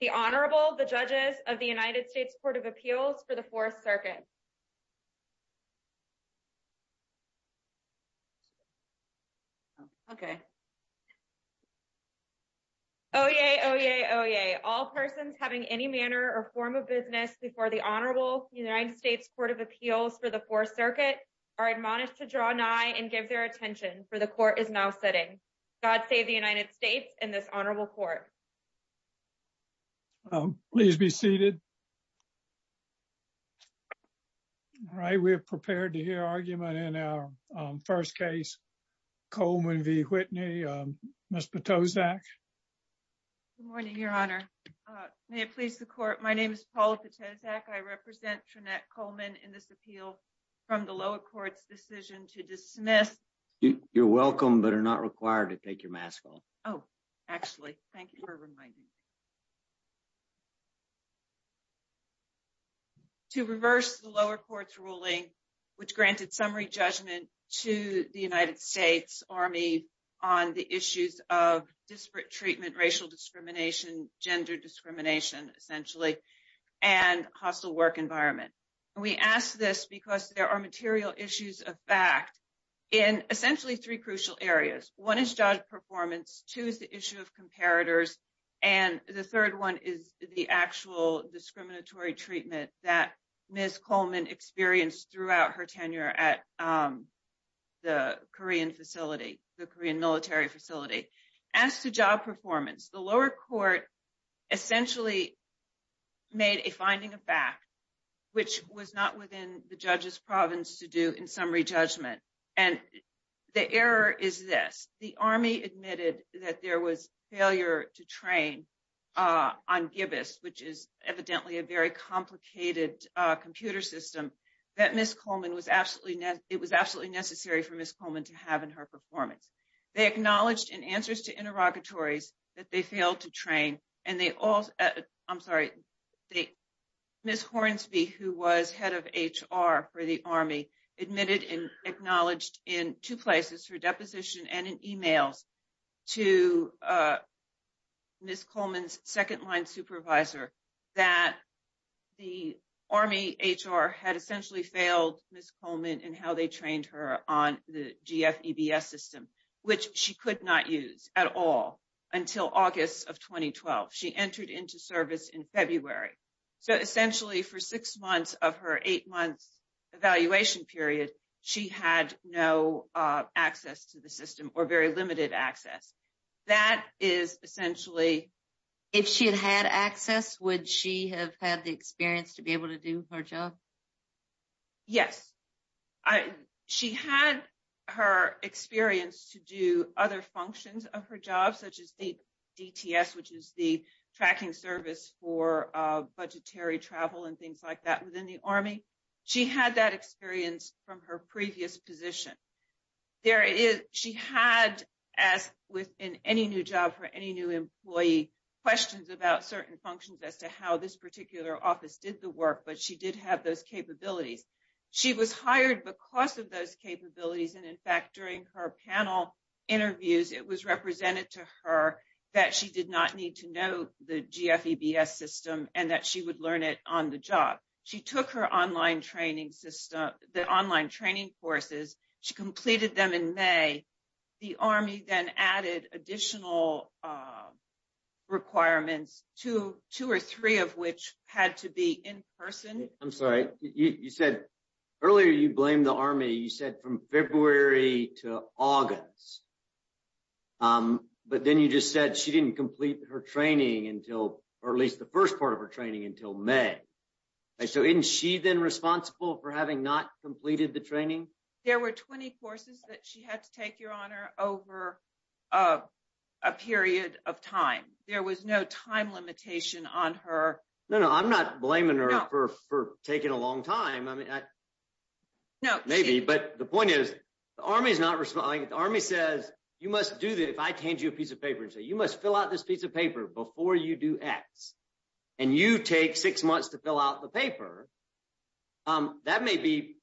The Honorable, the Judges of the United States Court of Appeals for the Fourth Circuit. Oyez, oyez, oyez, all persons having any manner or form of business before the Honorable United States Court of Appeals for the Fourth Circuit are admonished to draw nigh and give their attention, for the Court is now sitting. God save the United States and this Honorable Court. Please be seated. All right, we're prepared to hear argument in our first case. Coleman v. Whitney. Ms. Patozak. Good morning, Your Honor. May it please the Court, my name is Paula Patozak. I represent Trinette Coleman in this appeal from the lower court's decision to dismiss. You're welcome, but are not required to take your mask off. Oh, actually, thank you for reminding me. To reverse the lower court's ruling, which granted summary judgment to the United States Army on the issues of disparate treatment, racial discrimination, gender discrimination, essentially, and hostile work environment. We ask this because there are material issues of fact in essentially three crucial areas. One is job performance, two is the issue of comparators, and the third one is the actual discriminatory treatment that Ms. Coleman experienced throughout her tenure at the Korean facility, the Korean military facility. As to job performance, the lower court essentially made a finding of fact, which was not within the judge's province to do in summary judgment. And the error is this, the Army admitted that there was failure to train on Gibbous, which is evidently a very complicated computer system, that Ms. Coleman was absolutely, it was absolutely necessary for Ms. Coleman to have in her performance. They acknowledged in answers to interrogatories that they failed to train, and they also, I'm sorry, Ms. Hornsby, who was head of HR for the Army, admitted and acknowledged in two places, her deposition and in emails, to Ms. Coleman's second line supervisor, that the Army HR had essentially failed Ms. Coleman in how they trained her on the GFEBS system, which she could not use at all until August of 2012. She entered into service in February. So essentially for six months of her eight months evaluation period, she had no access to the system or very limited access. That is essentially- She had her experience to do other functions of her job, such as DTS, which is the tracking service for budgetary travel and things like that within the Army. She had that experience from her previous position. She had, as within any new job for any new employee, questions about certain functions as to how this particular office did the work, but she did have those capabilities. She was hired because of those capabilities. And in fact, during her panel interviews, it was represented to her that she did not need to know the GFEBS system and that she would learn it on the job. She took her online training system, the online training courses, she completed them in May. The Army then added additional requirements, two or three of which had to be in person. I'm sorry. You said earlier you blamed the Army, you said from February to August, but then you just said she didn't complete her training until, or at least the first part of her training until May. So isn't she then responsible for having not completed the training? There were 20 courses that she had to take, Your Honor, over a period of time. There was no time limitation on her. No, no. I'm not blaming her for taking a long time. Maybe, but the point is, the Army is not responding. The Army says, you must do this. If I hand you a piece of paper and say, you must fill out this piece of paper before you do X, and you take six months to fill out the paper, that may be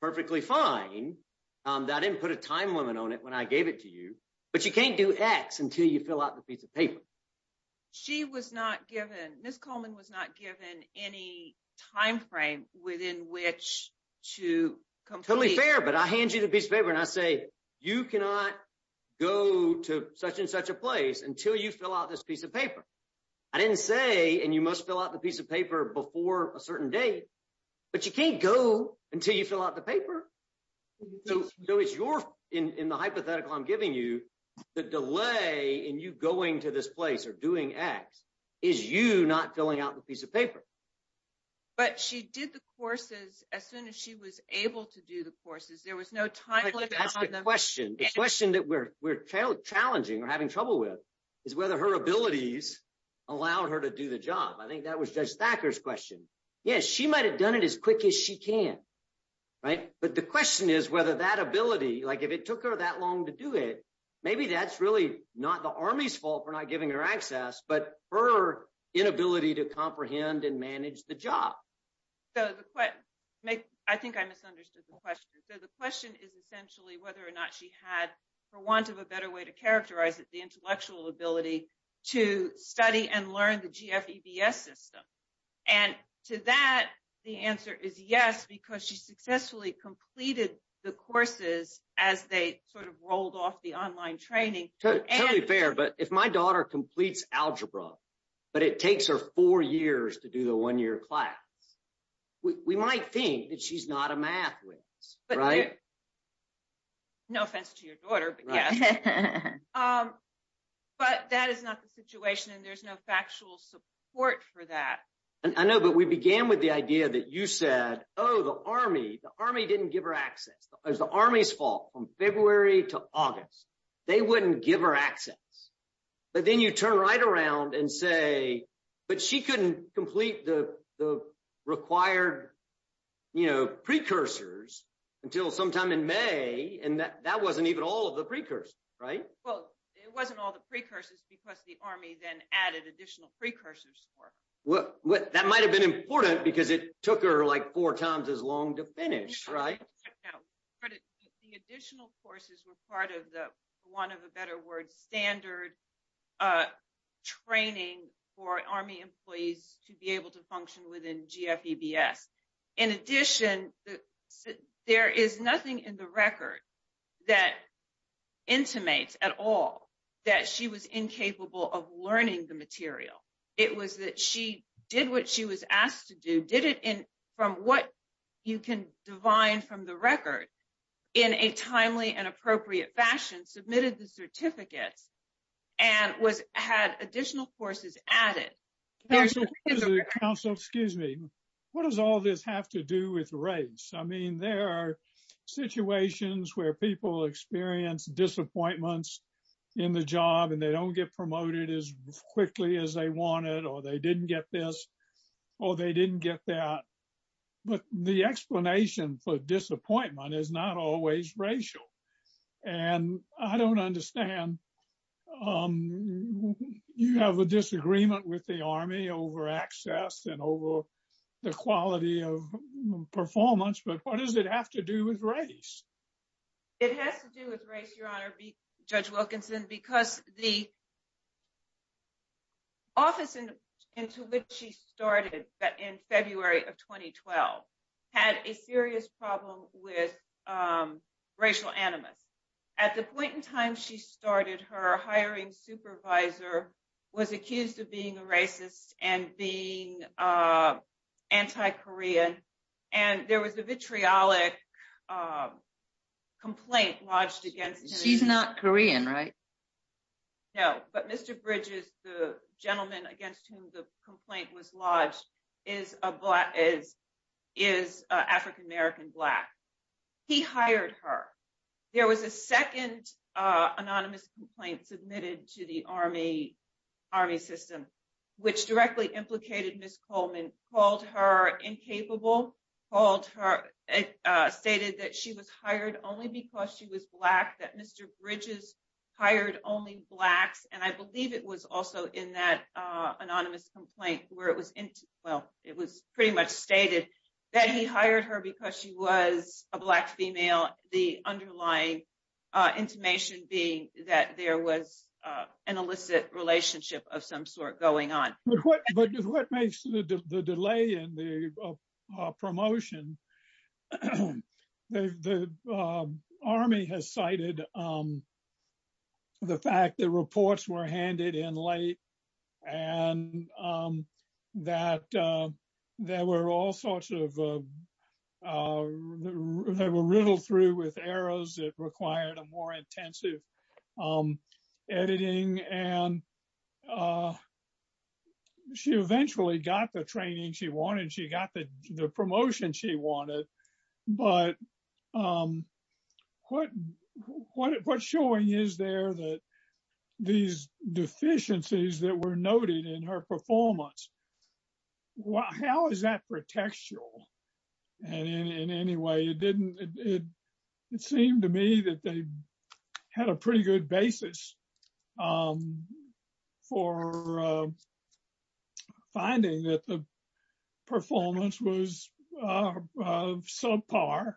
perfectly fine. I didn't put a time limit on it when I gave it to you, but you can't do X until you fill out a piece of paper. She was not given, Ms. Coleman was not given any time frame within which to complete. Totally fair, but I hand you the piece of paper and I say, you cannot go to such and such a place until you fill out this piece of paper. I didn't say, and you must fill out the piece of paper before a certain date, but you can't go until you fill the paper. In the hypothetical I'm giving you, the delay in you going to this place or doing X is you not filling out the piece of paper. But she did the courses as soon as she was able to do the courses. There was no time limit on them. That's the question. The question that we're challenging or having trouble with is whether her abilities allowed her to do the job. I think that was Judge Thacker's question. Yes, she might've done it as quick as she can. But the question is whether that ability, if it took her that long to do it, maybe that's really not the Army's fault for not giving her access, but her inability to comprehend and manage the job. I think I misunderstood the question. The question is essentially whether or not she had, for want of a better way to characterize it, intellectual ability to study and learn the GFEBS system. And to that, the answer is yes, because she successfully completed the courses as they sort of rolled off the online training. Totally fair. But if my daughter completes algebra, but it takes her four years to do the one-year class, we might think that she's not a math whiz, right? No offense to your daughter, but yes. But that is not the situation and there's no factual support for that. I know, but we began with the idea that you said, oh, the Army, the Army didn't give her access. It was the Army's fault from February to August. They wouldn't give her access. But then you turn right around and say, but she couldn't complete the required precursors until sometime in May. And that wasn't even all of the precursors, right? Well, it wasn't all the precursors because the Army then added additional precursors. That might've been important because it took her like four times as long to finish, right? The additional courses were part of the, for want of a better word, standard of training for Army employees to be able to function within GFEBS. In addition, there is nothing in the record that intimates at all that she was incapable of learning the material. It was that she did what she was asked to do, did it from what you can divine from the and was, had additional courses added. Counsel, excuse me. What does all this have to do with race? I mean, there are situations where people experience disappointments in the job and they don't get promoted as quickly as they wanted, or they didn't get this, or they didn't get that. But the explanation for disappointment is not always racial. And I don't understand, you have a disagreement with the Army over access and over the quality of performance, but what does it have to do with race? It has to do with race, Your Honor, Judge Wilkinson, because the into which she started in February of 2012 had a serious problem with racial animus. At the point in time she started, her hiring supervisor was accused of being a racist and being anti-Korean. And there was a vitriolic complaint lodged against him. She's not Korean, right? No, but Mr. Bridges, the gentleman against whom the complaint was lodged, is African-American Black. He hired her. There was a second anonymous complaint submitted to the Army system, which directly implicated Ms. Coleman, called her incapable, called her, stated that she was hired only because she was Black, that Mr. Bridges hired only Blacks. And I believe it was also in that anonymous complaint where it was, well, it was pretty much stated that he hired her because she was a Black female, the underlying intimation being that there was an illicit relationship of Army has cited the fact that reports were handed in late and that there were all sorts of, they were riddled through with errors that required a more intensive editing. And she eventually got the training she wanted. She got the promotion she wanted. But what showing is there that these deficiencies that were noted in her performance, how is that protectual? And in any way, it didn't, it seemed to me that they had a pretty good basis for finding that the performance was subpar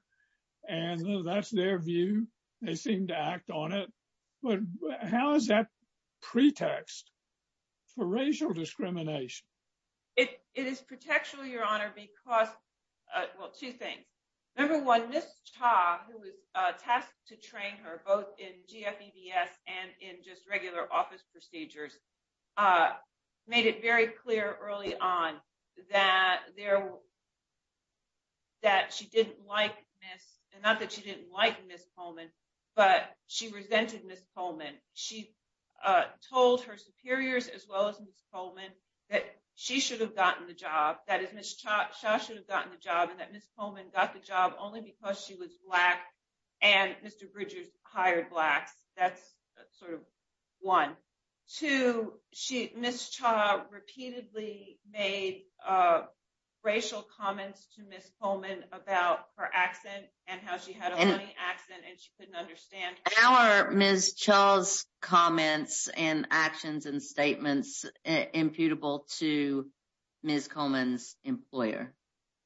and that's their view. They seem to act on it. But how is that pretext for racial discrimination? It is protectual, Your Honor, because, well, two things. Number one, Ms. Cha, who was tasked to train her both in GFEBS and in just regular office procedures, made it very clear early on that she didn't like Ms., and not that she didn't like Ms. Coleman, but she resented Ms. Coleman. She told her superiors, as well as Ms. Coleman, that Ms. Coleman got the job only because she was Black and Mr. Bridges hired Blacks. That's sort of one. Two, Ms. Cha repeatedly made racial comments to Ms. Coleman about her accent and how she had a funny accent and she couldn't understand her. How are Ms. Cha's comments and actions and statements imputable to Ms. Coleman's employer?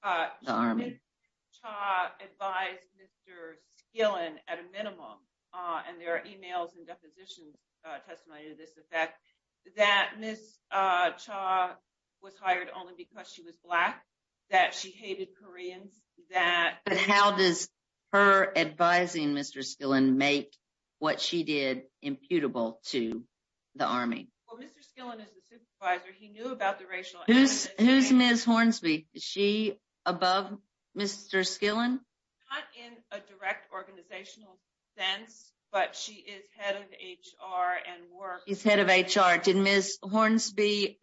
The Army. Ms. Cha advised Mr. Skillen at a minimum, and there are emails and depositions testimony to this effect, that Ms. Cha was hired only because she was Black, that she hated Koreans, that- But how does her advising Mr. Skillen make what she did imputable to the Army? Well, Mr. Skillen is the supervisor. He knew about the racial- Who's Ms. Hornsby? Is she above Mr. Skillen? Not in a direct organizational sense, but she is head of HR and work. She's head of HR. Did Ms. Hornsby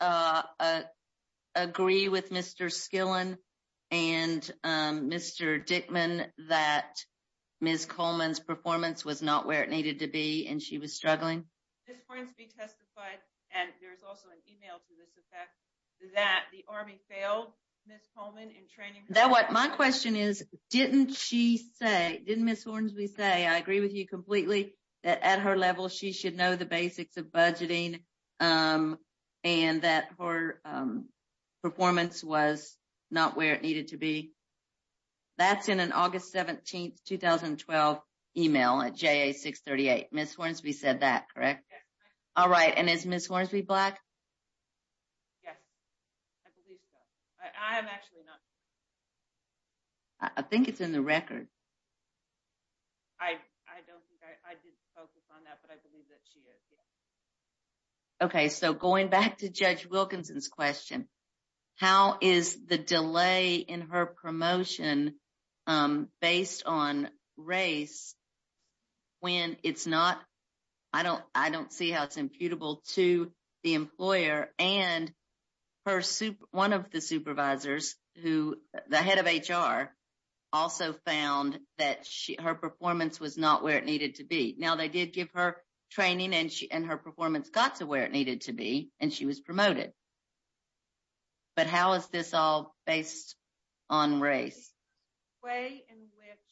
agree with Mr. Skillen and Mr. Dickman that Ms. Coleman's performance was not where it needed to be and she was struggling? Ms. Hornsby testified, and there's also an email to this effect, that the Army failed Ms. Coleman in training her- My question is, didn't she say, didn't Ms. Hornsby say, I agree with you completely, that at her level she should know the basics of budgeting and that her performance was not where it needed to be? That's in an August 17, 2012 email at JA 638. Ms. Hornsby said that, correct? Yes. All right. And is Ms. Hornsby Black? Yes. I believe so. I am actually not. I think it's in the record. I don't think I did focus on that, but I believe that she is, yes. Okay. So going back to Judge Wilkinson's question, how is the delay in her promotion based on race when it's not, I don't see how it's imputable to the employer and one of the supervisors who, the head of HR, also found that her performance was not where it needed to be. Now they did give her training and her but how is this all based on race? The way in which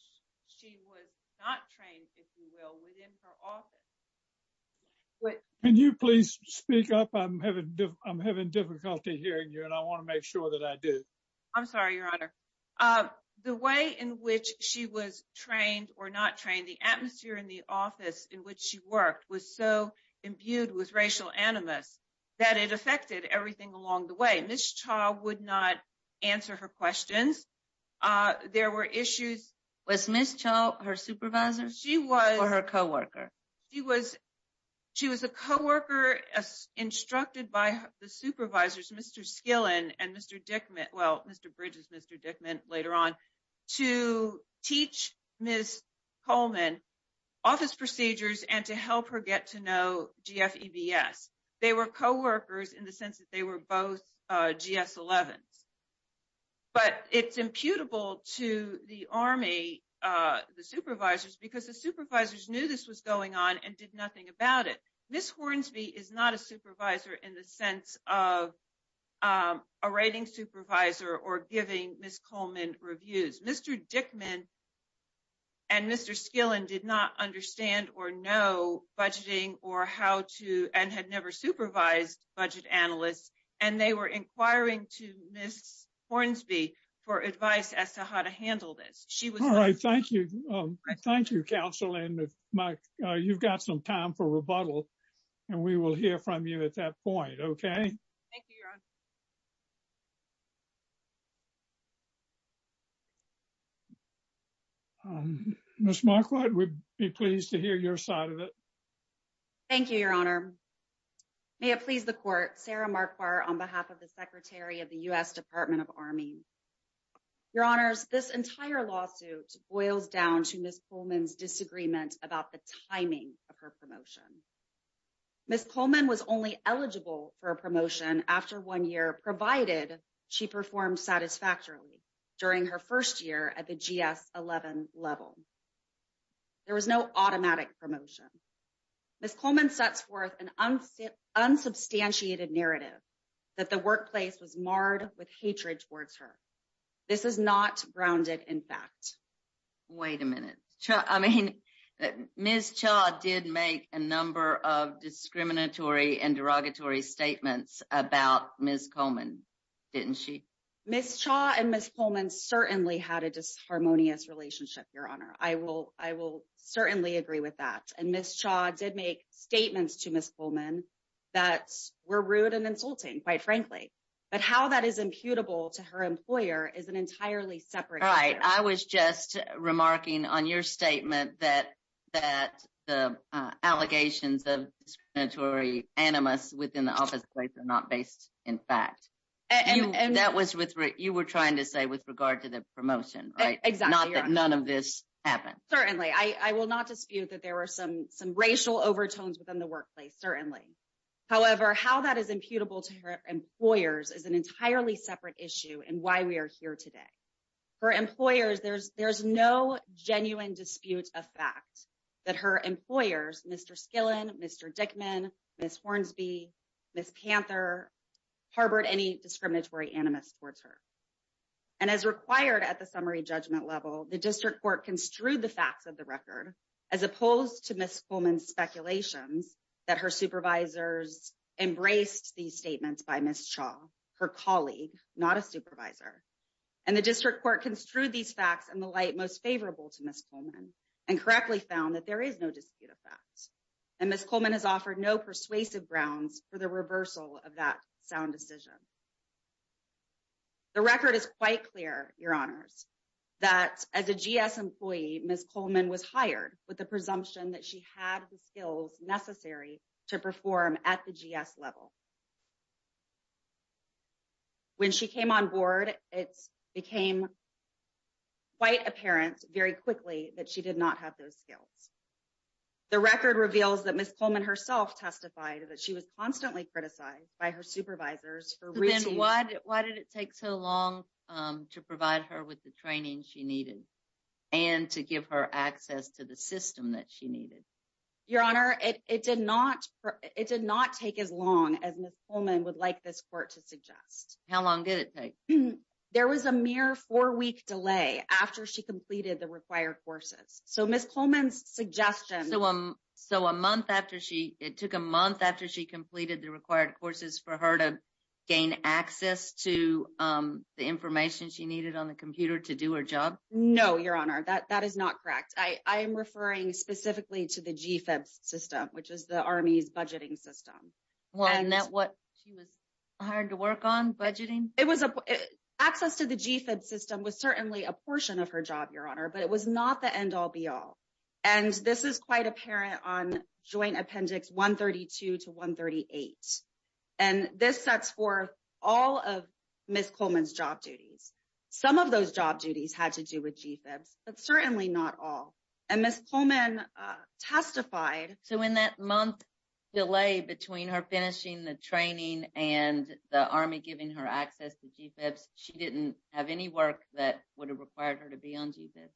she was not trained, if you will, within her office. Can you please speak up? I'm having difficulty hearing you and I want to make sure that I do. I'm sorry, Your Honor. The way in which she was trained or not trained, the atmosphere in the way. Ms. Cha would not answer her questions. There were issues. Was Ms. Cha her supervisor? She was. Or her coworker? She was a coworker instructed by the supervisors, Mr. Skillen and Mr. Dickman, well, Mr. Bridges, Mr. Dickman later on, to teach Ms. Coleman office procedures and to help her get to know GFEBS. They were coworkers in the sense that were both GS-11s. But it's imputable to the Army, the supervisors, because the supervisors knew this was going on and did nothing about it. Ms. Hornsby is not a supervisor in the sense of a rating supervisor or giving Ms. Coleman reviews. Mr. Dickman and Mr. Skillen did not understand or budgeting or how to and had never supervised budget analysts. And they were inquiring to Ms. Hornsby for advice as to how to handle this. She was. All right. Thank you. Thank you, counsel. And you've got some time for rebuttal. And we will hear from you at that point. Okay. Thank you, Your Honor. Ms. Marquardt, we'd be pleased to hear your side of it. Thank you, Your Honor. May it please the court, Sarah Marquardt on behalf of the Secretary of the U.S. Department of Army. Your Honors, this entire lawsuit boils down to Ms. Coleman's year, provided she performed satisfactorily during her first year at the GS-11 level. There was no automatic promotion. Ms. Coleman sets forth an unsubstantiated narrative that the workplace was marred with hatred towards her. This is not grounded in fact. Wait a minute. I mean, Ms. Cha did make a number of discriminatory and derogatory statements about Ms. Coleman, didn't she? Ms. Cha and Ms. Coleman certainly had a disharmonious relationship, Your Honor. I will certainly agree with that. And Ms. Cha did make statements to Ms. Coleman that were rude and insulting, quite frankly. But how that is imputable to her employer is an entirely separate matter. Right. I was just remarking on your statement that the allegations of discriminatory animus within the office place are not based in fact. And that was what you were trying to say with regard to the promotion, right? Exactly, Your Honor. None of this happened. Certainly. I will not dispute that there were some racial overtones within the workplace, certainly. However, how that is imputable to her employers is an entirely separate issue and why we are here today. For employers, there's no genuine dispute of fact that her employers, Mr. Skillen, Mr. Dickman, Ms. Hornsby, Ms. Panther, harbored any discriminatory animus towards her. And as required at the summary judgment level, the district court construed the facts of the record as opposed to Ms. Coleman's speculations that her supervisors embraced these statements by Ms. Cha, her colleague, not a supervisor. And the district court construed these facts in the light most favorable to Ms. Coleman and correctly found that there is no dispute of facts. And Ms. Coleman has offered no persuasive grounds for the reversal of that sound decision. The record is quite clear, Your Honors, that as a GS employee, Ms. Coleman was hired with the presumption that she had the very quickly that she did not have those skills. The record reveals that Ms. Coleman herself testified that she was constantly criticized by her supervisors for reasons- Why did it take so long to provide her with the training she needed and to give her access to the system that she needed? Your Honor, it did not take as long as Ms. Coleman would like this court to suggest. How long did it take? There was a mere four-week delay after she completed the required courses. So, Ms. Coleman's suggestion- So, a month after she, it took a month after she completed the required courses for her to gain access to the information she needed on the computer to do her job? No, Your Honor, that is not correct. I am referring specifically to the GFEB system, which is the Army's budgeting system. It was, access to the GFEB system was certainly a portion of her job, Your Honor, but it was not the end all, be all. And this is quite apparent on Joint Appendix 132 to 138. And this sets forth all of Ms. Coleman's job duties. Some of those job duties had to do with GFEBs, but certainly not all. And Ms. Coleman testified- So, in that month delay between her finishing the training and the Army giving her access to GFEBs, she didn't have any work that would have required her to be on GFEBs?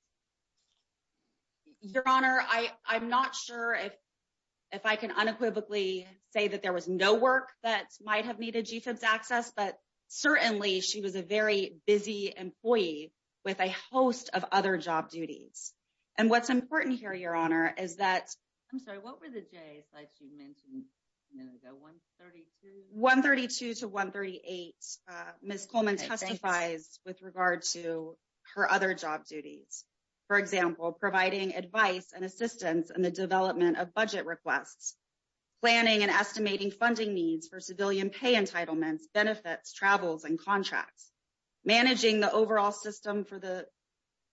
Your Honor, I'm not sure if I can unequivocally say that there was no work that might have needed GFEBs access, but certainly she was a very busy employee with a host of other job duties. And what's important here, Your Honor, is that- I'm sorry, what were the days that she mentioned a minute ago, 132? 132 to 138, Ms. Coleman testifies with regard to her other job duties. For example, providing advice and assistance in the development of budget requests, planning and estimating funding needs for civilian pay entitlements, benefits, travels, and contracts, managing the overall system for the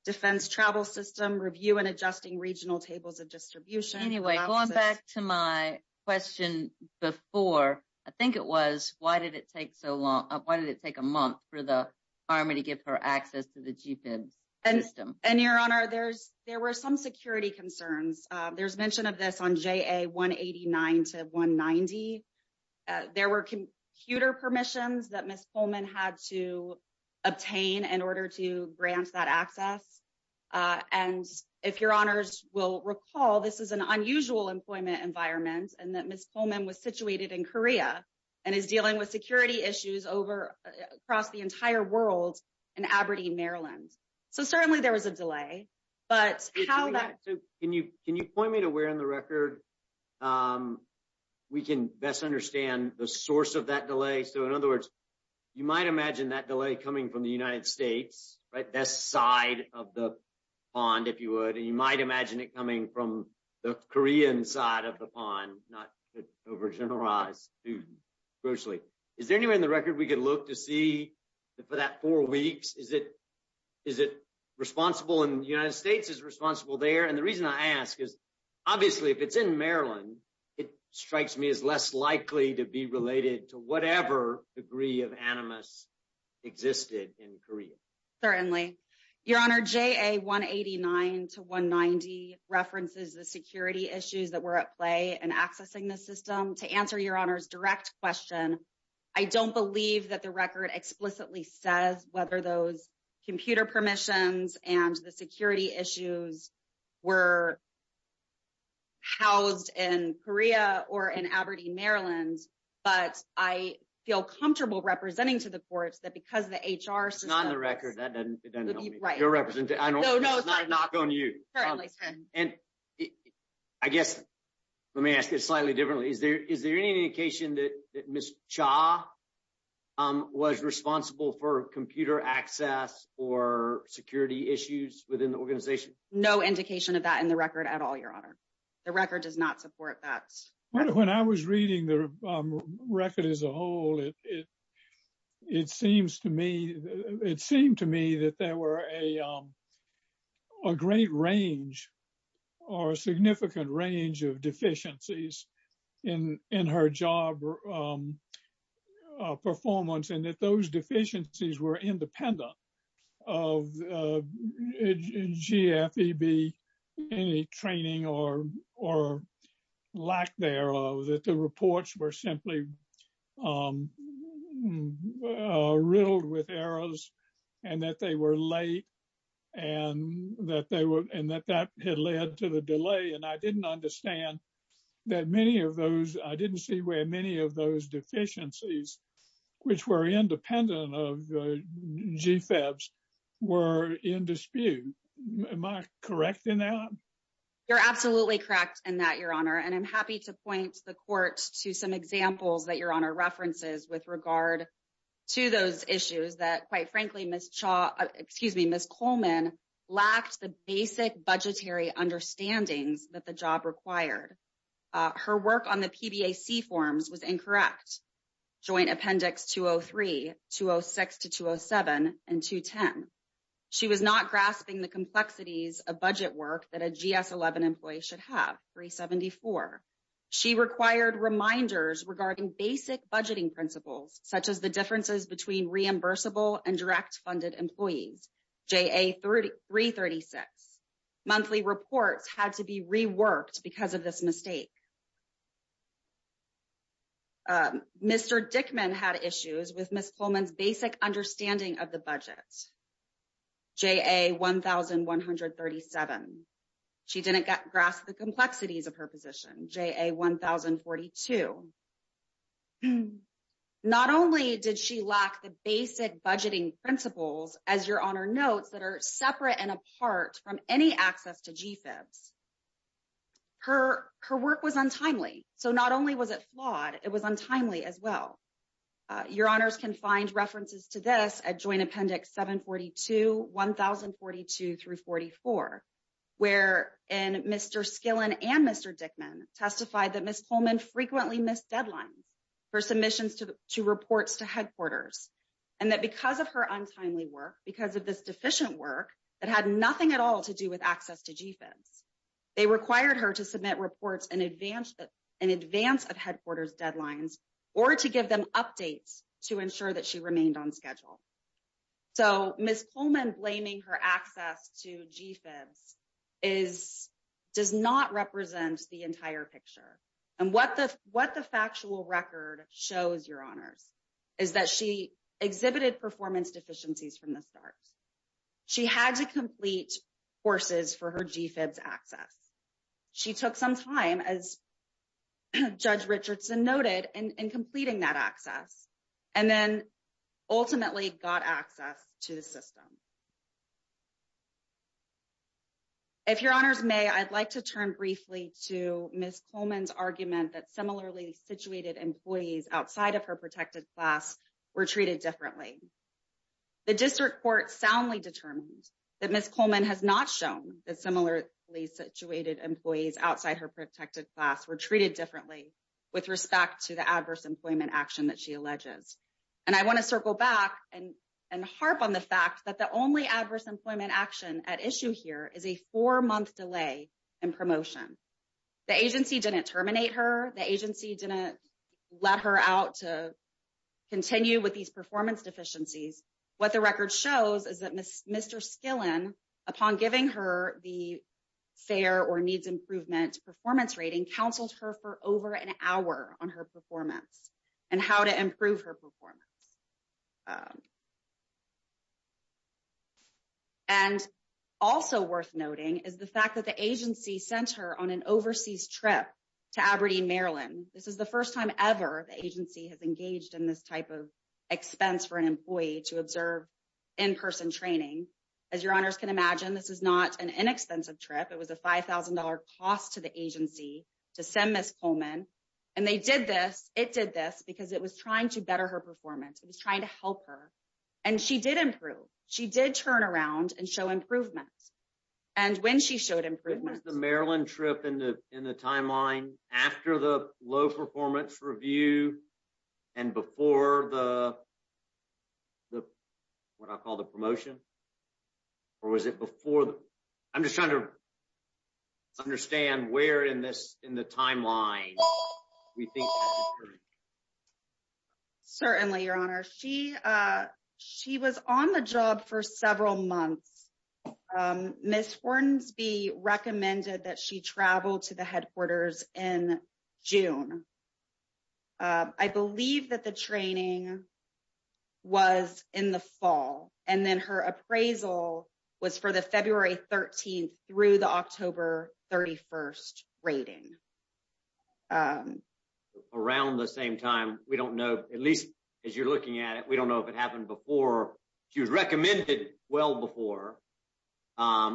defense travel system, review and adjusting regional tables of distribution- Anyway, going back to my question before, I think it was, why did it take a month for the Army to give her access to the GFEBs system? And Your Honor, there were some security concerns. There's mention of this on JA 189 to 190. There were computer permissions that Ms. Coleman had to and if Your Honors will recall, this is an unusual employment environment and that Ms. Coleman was situated in Korea and is dealing with security issues across the entire world in Aberdeen, Maryland. So, certainly there was a delay, but how that- Can you point me to where in the record we can best understand the source of that delay? So, in other words, you might imagine that delay coming from the United States, this side of the pond, if you would. And you might imagine it coming from the Korean side of the pond, not to overgeneralize too grossly. Is there anywhere in the record we could look to see for that four weeks? Is it responsible in the United States? Is it responsible there? And the reason I ask is, obviously, if it's in Maryland, it strikes me as less likely to be certainly. Your Honor, JA 189 to 190 references the security issues that were at play in accessing the system. To answer Your Honor's direct question, I don't believe that the record explicitly says whether those computer permissions and the security issues were housed in Korea or in Aberdeen, Maryland, but I feel comfortable representing to the courts that because the HR system- It's not in the record. That doesn't help me. Right. You're representing- No, no, it's fine. It's not a knock on you. And I guess, let me ask it slightly differently. Is there any indication that Ms. Cha was responsible for computer access or security issues within the organization? No indication of that in the record at all, Your Honor. The record does not support that. When I was reading the record as a whole, it seemed to me that there were a great range or a significant range of deficiencies in her job performance and that those deficiencies were that the reports were simply riddled with errors and that they were late and that that had led to the delay. And I didn't understand that many of those- I didn't see where many of those deficiencies which were independent of the GFEBs were in dispute. Am I correct in that? You're absolutely correct in that, Your Honor. And I'm happy to point the court to some examples that Your Honor references with regard to those issues that, quite frankly, Ms. Cha- Excuse me, Ms. Coleman lacked the basic budgetary understandings that the job required. Her work on the PBAC forms was incorrect. Joint Appendix 203, 206 to 207, and 210. She was not grasping the complexities of budget work that a GS-11 employee should have, 374. She required reminders regarding basic budgeting principles, such as the differences between reimbursable and direct funded employees, JA-336. Monthly reports had to be reworked because of this mistake. Mr. Dickman had issues with Ms. Coleman's basic understanding of the JA-1137. She didn't grasp the complexities of her position, JA-1042. Not only did she lack the basic budgeting principles, as Your Honor notes, that are separate and apart from any access to GFEBs. Her work was untimely. So, not only was it flawed, it was untimely as well. Your Honors can find references to this at Joint Appendix 742, 1042 through 44, where Mr. Skillen and Mr. Dickman testified that Ms. Coleman frequently missed deadlines for submissions to reports to headquarters, and that because of her untimely work, because of this deficient work that had nothing at all to do with access to GFEBs, they required her to submit reports in advance of headquarters deadlines or to give them updates to ensure that she remained on schedule. So, Ms. Coleman blaming her access to GFEBs does not represent the entire picture. And what the factual record shows, Your Honors, is that she exhibited performance deficiencies from the start. She had to complete courses for GFEBs access. She took some time, as Judge Richardson noted, in completing that access, and then ultimately got access to the system. If Your Honors may, I'd like to turn briefly to Ms. Coleman's argument that similarly situated employees outside of her protected class were treated differently. The district court soundly determined that Ms. Coleman has not shown that similarly situated employees outside her protected class were treated differently with respect to the adverse employment action that she alleges. And I want to circle back and harp on the fact that the only adverse employment action at issue here is a four-month delay in promotion. The agency didn't terminate her. The agency didn't let her out to continue with these performance deficiencies. What the record shows is that Mr. Skillen, upon giving her the fair or needs improvement performance rating, counseled her for over an hour on her performance and how to improve her performance. And also worth noting is the fact that the agency sent her on an overseas trip to Aberdeen, Maryland. This is the first time ever the agency has engaged in this type of expense for an employee to observe in-person training. As Your Honors can imagine, this is not an inexpensive trip. It was a $5,000 cost to the agency to send Ms. Coleman. And they did this. It did this because it was trying to better her performance. It was trying to help her. And she did improve. She did turn around and show improvements. And when she showed improvements- what I'll call the promotion, or was it before? I'm just trying to understand where in the timeline we think- Certainly, Your Honor. She was on the job for several months. Ms. Hortonsby recommended that she travel to the headquarters in June. I believe that the training was in the fall. And then her appraisal was for the February 13th through the October 31st rating. Around the same time, we don't know, at least as you're looking at it, we don't know if it happened before. She was recommended well before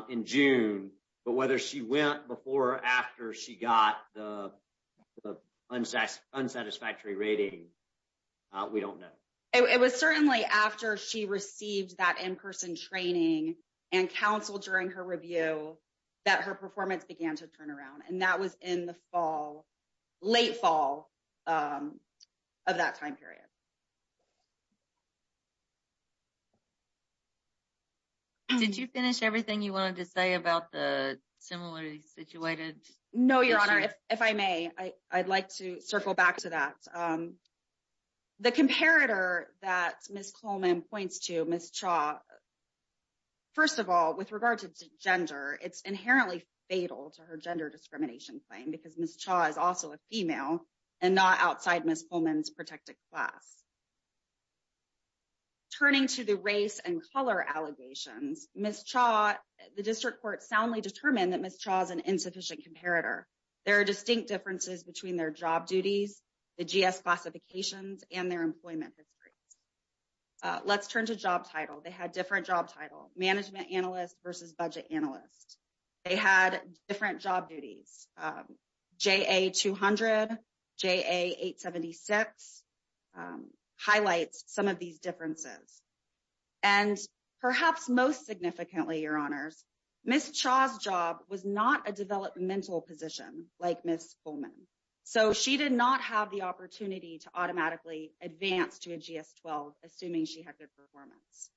in June. But whether she went before or after she got the unsatisfactory rating, we don't know. It was certainly after she received that in-person training and counsel during her review that her performance began to turn around. And that was in the fall, late fall of that time period. Did you finish everything you wanted to say about the similarity situated issue? No, Your Honor. If I may, I'd like to circle back to that. The comparator that Ms. Coleman points to, Ms. Chaw, first of all, with regard to gender, it's inherently fatal to her gender discrimination claim because Ms. Chaw is also a female and not outside Ms. Coleman's protected class. Turning to the race and color allegations, Ms. Chaw, the district court soundly determined that Ms. Chaw is an insufficient comparator. There are distinct differences between their job duties, the GS classifications, and their employment history. Let's turn to job title. They had different job title, management analyst versus budget analyst. They had different job duties. JA-200, JA-876 highlights some of these differences. And perhaps most significantly, Your Honors, Ms. Chaw's job was not a developmental position like Ms. Coleman. So she did not have the opportunity to automatically advance to a GS-12 assuming she had good performance.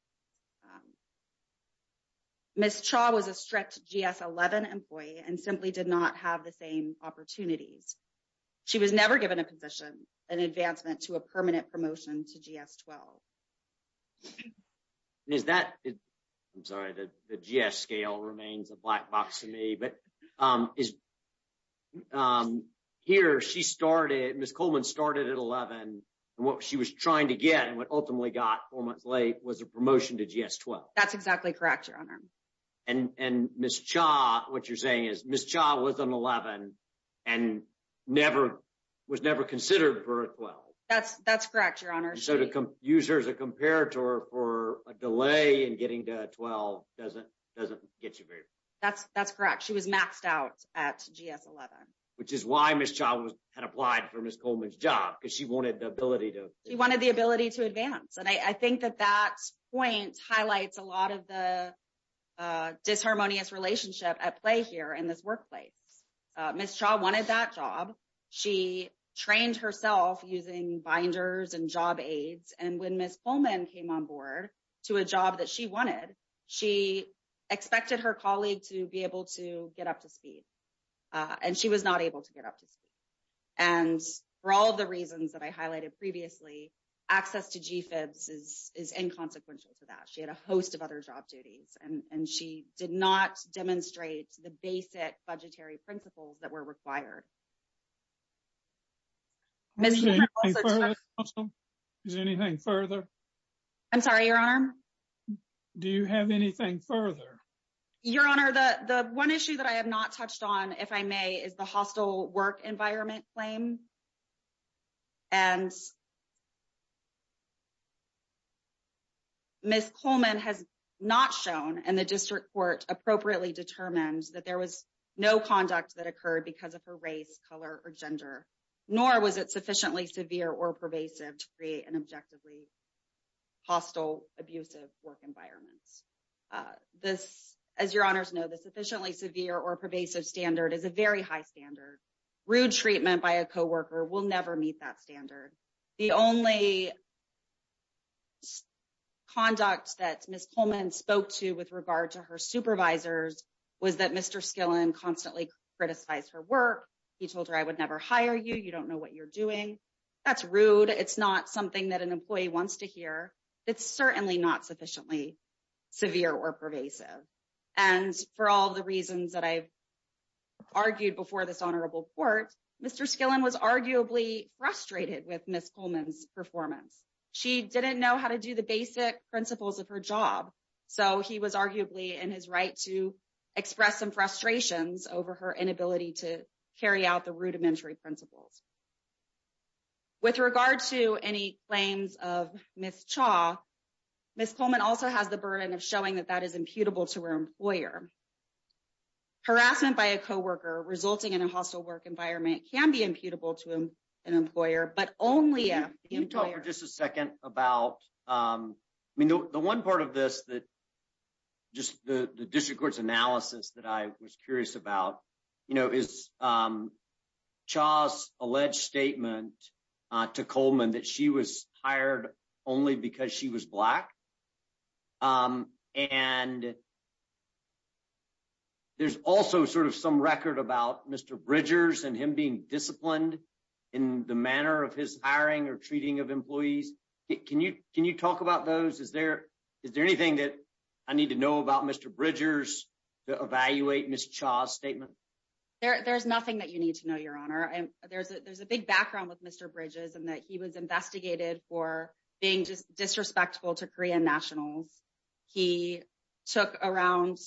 Ms. Chaw was a strict GS-11 employee and simply did not have the same opportunities. She was never given a position, an advancement to a permanent promotion to GS-12. I'm sorry, the GS scale remains a black box to me. But here, Ms. Coleman started at 11 and what she was trying to get and what ultimately got four months late was a promotion to GS-12. That's exactly correct, Your Honor. And Ms. Chaw, what you're saying is Ms. Chaw was an 11 and was never considered for a 12. That's correct, Your Honor. So to use her as a comparator for a delay and getting to a 12 doesn't get you very... That's correct. She was maxed out at GS-11. Which is why Ms. Chaw had applied for Ms. Coleman's job because she wanted the ability to... She wanted the ability to advance. And I think that that point highlights a lot of the disharmonious relationship at play here in this case. Ms. Chaw wanted that job. She trained herself using binders and job aids. And when Ms. Coleman came on board to a job that she wanted, she expected her colleague to be able to get up to speed. And she was not able to get up to speed. And for all the reasons that I highlighted previously, access to GFIBs is inconsequential to that. She had a host of other job duties. And she did not demonstrate the basic budgetary principles that were required. Ms. Chaw also touched... Is there anything further? I'm sorry, Your Honor. Do you have anything further? Your Honor, the one issue that I have not touched on, if I may, is the hostile work not shown. And the district court appropriately determined that there was no conduct that occurred because of her race, color, or gender, nor was it sufficiently severe or pervasive to create an objectively hostile, abusive work environment. As Your Honors know, the sufficiently severe or pervasive standard is a very high standard. Rude treatment by a co-worker will never meet that standard. The only conduct that Ms. Coleman spoke to with regard to her supervisors was that Mr. Skillen constantly criticized her work. He told her, I would never hire you. You don't know what you're doing. That's rude. It's not something that an employee wants to hear. It's certainly not sufficiently severe or pervasive. And for all the reasons that I've mentioned, Mr. Skillen was arguably frustrated with Ms. Coleman's performance. She didn't know how to do the basic principles of her job. So he was arguably in his right to express some frustrations over her inability to carry out the rudimentary principles. With regard to any claims of Ms. Chaw, Ms. Coleman also has the burden of showing that that is imputable to her employer. Harassment by a co-worker resulting in a hostile work environment can be imputable to an employer, but only if the employer- Can you talk for just a second about, I mean, the one part of this that, just the district court's analysis that I was curious about, you know, is Chaw's alleged statement to Coleman that she was hired only because she was Black. And there's also sort of some record about Mr. Bridgers and him being disciplined in the manner of his hiring or treating of employees. Can you talk about those? Is there anything that I need to know about Mr. Bridgers to evaluate Ms. Chaw's statement? There's nothing that you need to know, Your Honor. There's a big background with Mr. Bridges in that he was investigated for being disrespectful to Korean nationals. He took around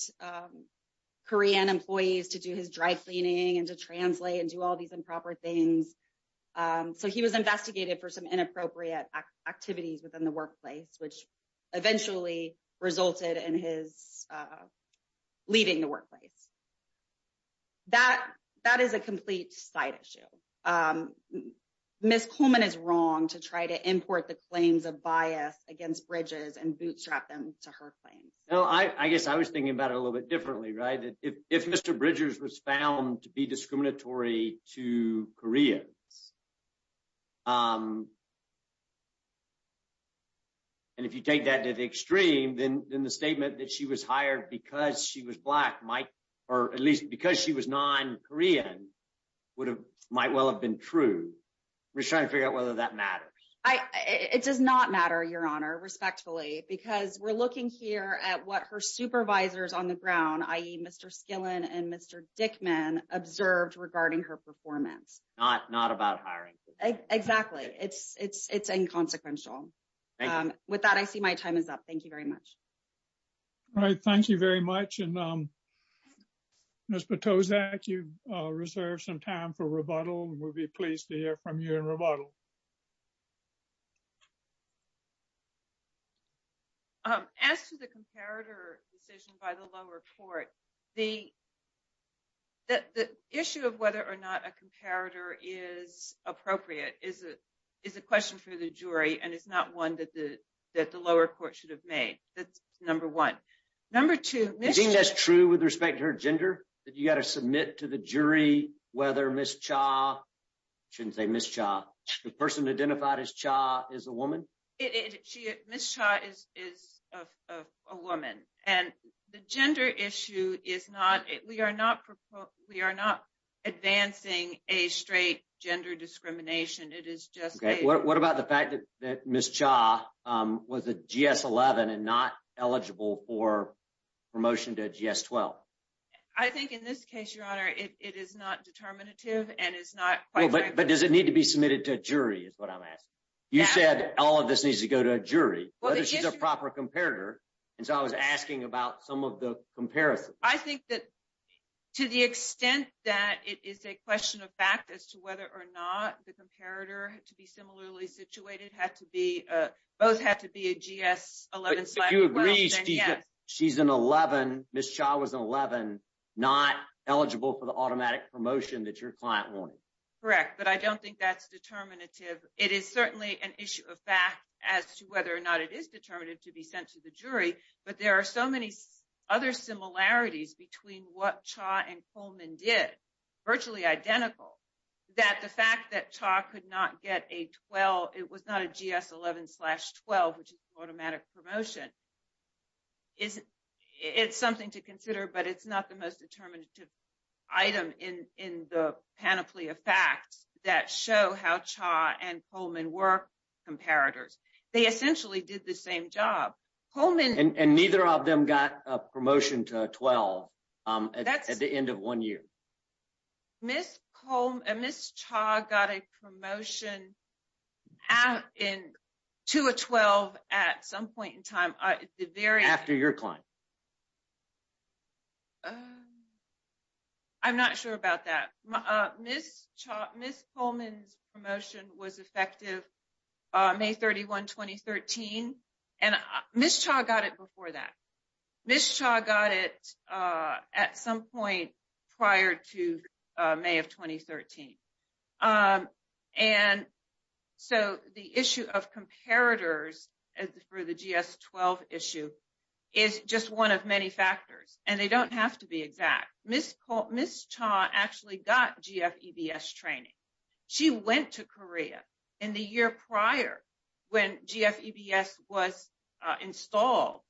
Korean employees to do his dry cleaning and to translate and do all these improper things. So he was investigated for some inappropriate activities within the workplace, which eventually resulted in his leaving the workplace. That is a complete side issue. Ms. Coleman is wrong to try to import the claims of bias against Bridges and bootstrap them to her claims. I guess I was thinking about it a little bit differently, right? If Mr. Bridges was found to be discriminatory to Koreans, and if you take that to the extreme, then the statement that she was hired because she was Black, or at least because she was non-Korean, might well have been true. We're trying to figure out whether that matters. It does not matter, Your Honor, respectfully, because we're looking here at what her supervisors on the ground, i.e., Mr. Skillen and Mr. Dickman, observed regarding her performance. It's not about hiring. Exactly. It's inconsequential. With that, I see my time is up. Thank you very much. All right. Thank you very much. Ms. Potosak, you've reserved some time for rebuttal. We'll be pleased to hear from you in rebuttal. As to the comparator decision by the lower court, the issue of whether or not a comparator is appropriate is a question for the jury, and it's not one that the lower court should have made. That's number one. Number two— Do you think that's true with respect to her gender, that you've got to submit to the jury whether Ms. Cha—I shouldn't say Ms. Cha—the person identified as Cha is a woman? Ms. Cha is a woman. And the gender issue is not—we are not advancing a straight gender discrimination. It is just a— Okay. What about the fact that Ms. Cha was a GS-11 and not eligible for promotion to a GS-12? I think in this case, Your Honor, it is not determinative and is not quite— But does it need to be submitted to a jury is what I'm asking. You said all of this needs to go to a jury, whether she's a proper comparator. And so I was asking about some of the comparisons. I think that to the extent that it is a question of fact as to whether or not the comparator to be similarly situated had to be—both had to be a GS-11— But if you agree she's an 11, Ms. Cha was an 11, not eligible for the automatic promotion that your client wanted. Correct. But I don't think that's determinative. It is certainly an issue of fact as to whether or not it is determinative to be sent to the jury. But there are so many other similarities between what Cha and Coleman did, virtually identical, that the fact that Cha could not get it was not a GS-11 slash 12, which is automatic promotion. It's something to consider, but it's not the most determinative item in the panoply of facts that show how Cha and Coleman were comparators. They essentially did the same job. Coleman— And neither of them got a promotion to a 12 at the end of one year. Ms. Cha got a promotion to a 12 at some point in time. After your client. I'm not sure about that. Ms. Coleman's promotion was effective May 31, 2013, and Ms. Cha got it before that. Ms. Cha got it at some point prior to May of 2013. And so, the issue of comparators for the GS-12 issue is just one of many factors, and they don't have to be exact. Ms. Cha actually got GFEBS training. She went to Korea in the year prior when GFEBS was installed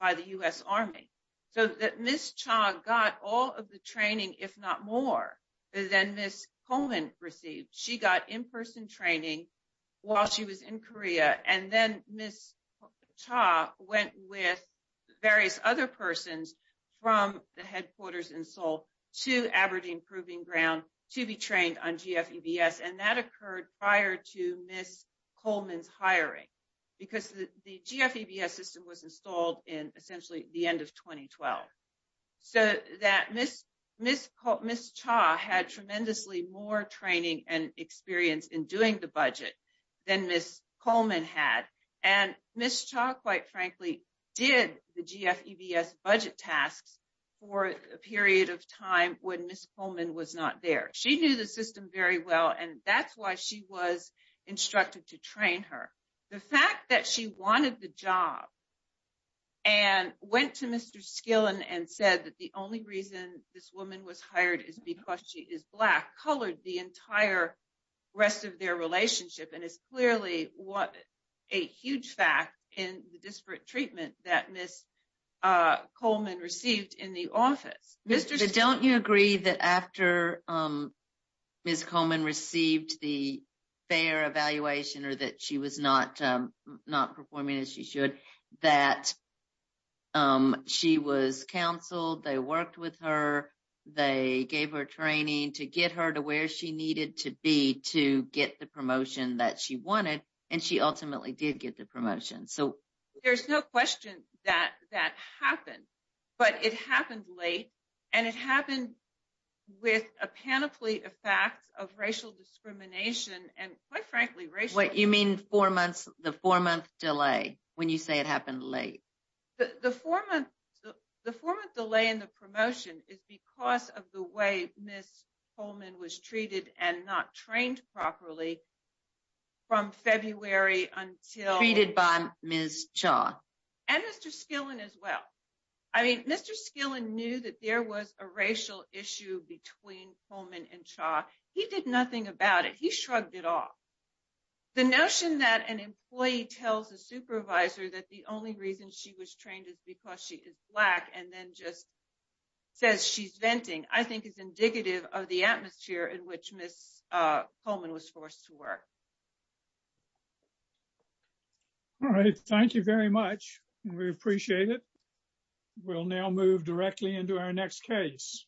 by the U.S. Army. So, Ms. Cha got all of the training, if not more, than Ms. Coleman received. She got in-person training while she was in Korea, and then Ms. Cha went with various other persons from the headquarters in Seoul to Aberdeen to be trained on GFEBS, and that occurred prior to Ms. Coleman's hiring because the GFEBS system was installed in essentially the end of 2012. So, Ms. Cha had tremendously more training and experience in doing the budget than Ms. Coleman had, and Ms. Cha, quite frankly, did the GFEBS budget tasks for a period of time when Ms. Coleman was not there. She knew the system very well, and that's why she was instructed to train her. The fact that she wanted the job and went to Mr. Skillin and said that the only reason this woman was hired is because she is Black colored the entire rest of their relationship, and it's clearly a huge fact in the statement that Ms. Coleman received in the office. Mr. Skillin. Don't you agree that after Ms. Coleman received the fair evaluation or that she was not performing as she should, that she was counseled, they worked with her, they gave her training to get her to where she needed to be to get the promotion that she wanted, and she ultimately did get the promotion? So, there's no question that that happened, but it happened late, and it happened with a panoply of facts of racial discrimination, and quite frankly, racial... What you mean the four-month delay when you say it happened late? The four-month delay in the promotion is because of the way Ms. Coleman was treated and not trained properly from February until... Treated by Ms. Cha. And Mr. Skillin as well. I mean, Mr. Skillin knew that there was a racial issue between Coleman and Cha. He did nothing about it. He shrugged it off. The notion that an employee tells a supervisor that the only reason she was trained is because she is Black and then just says she's venting, I think is indicative of the atmosphere in which Ms. Coleman was forced to work. All right. Thank you very much. We appreciate it. We'll now move directly into our next case.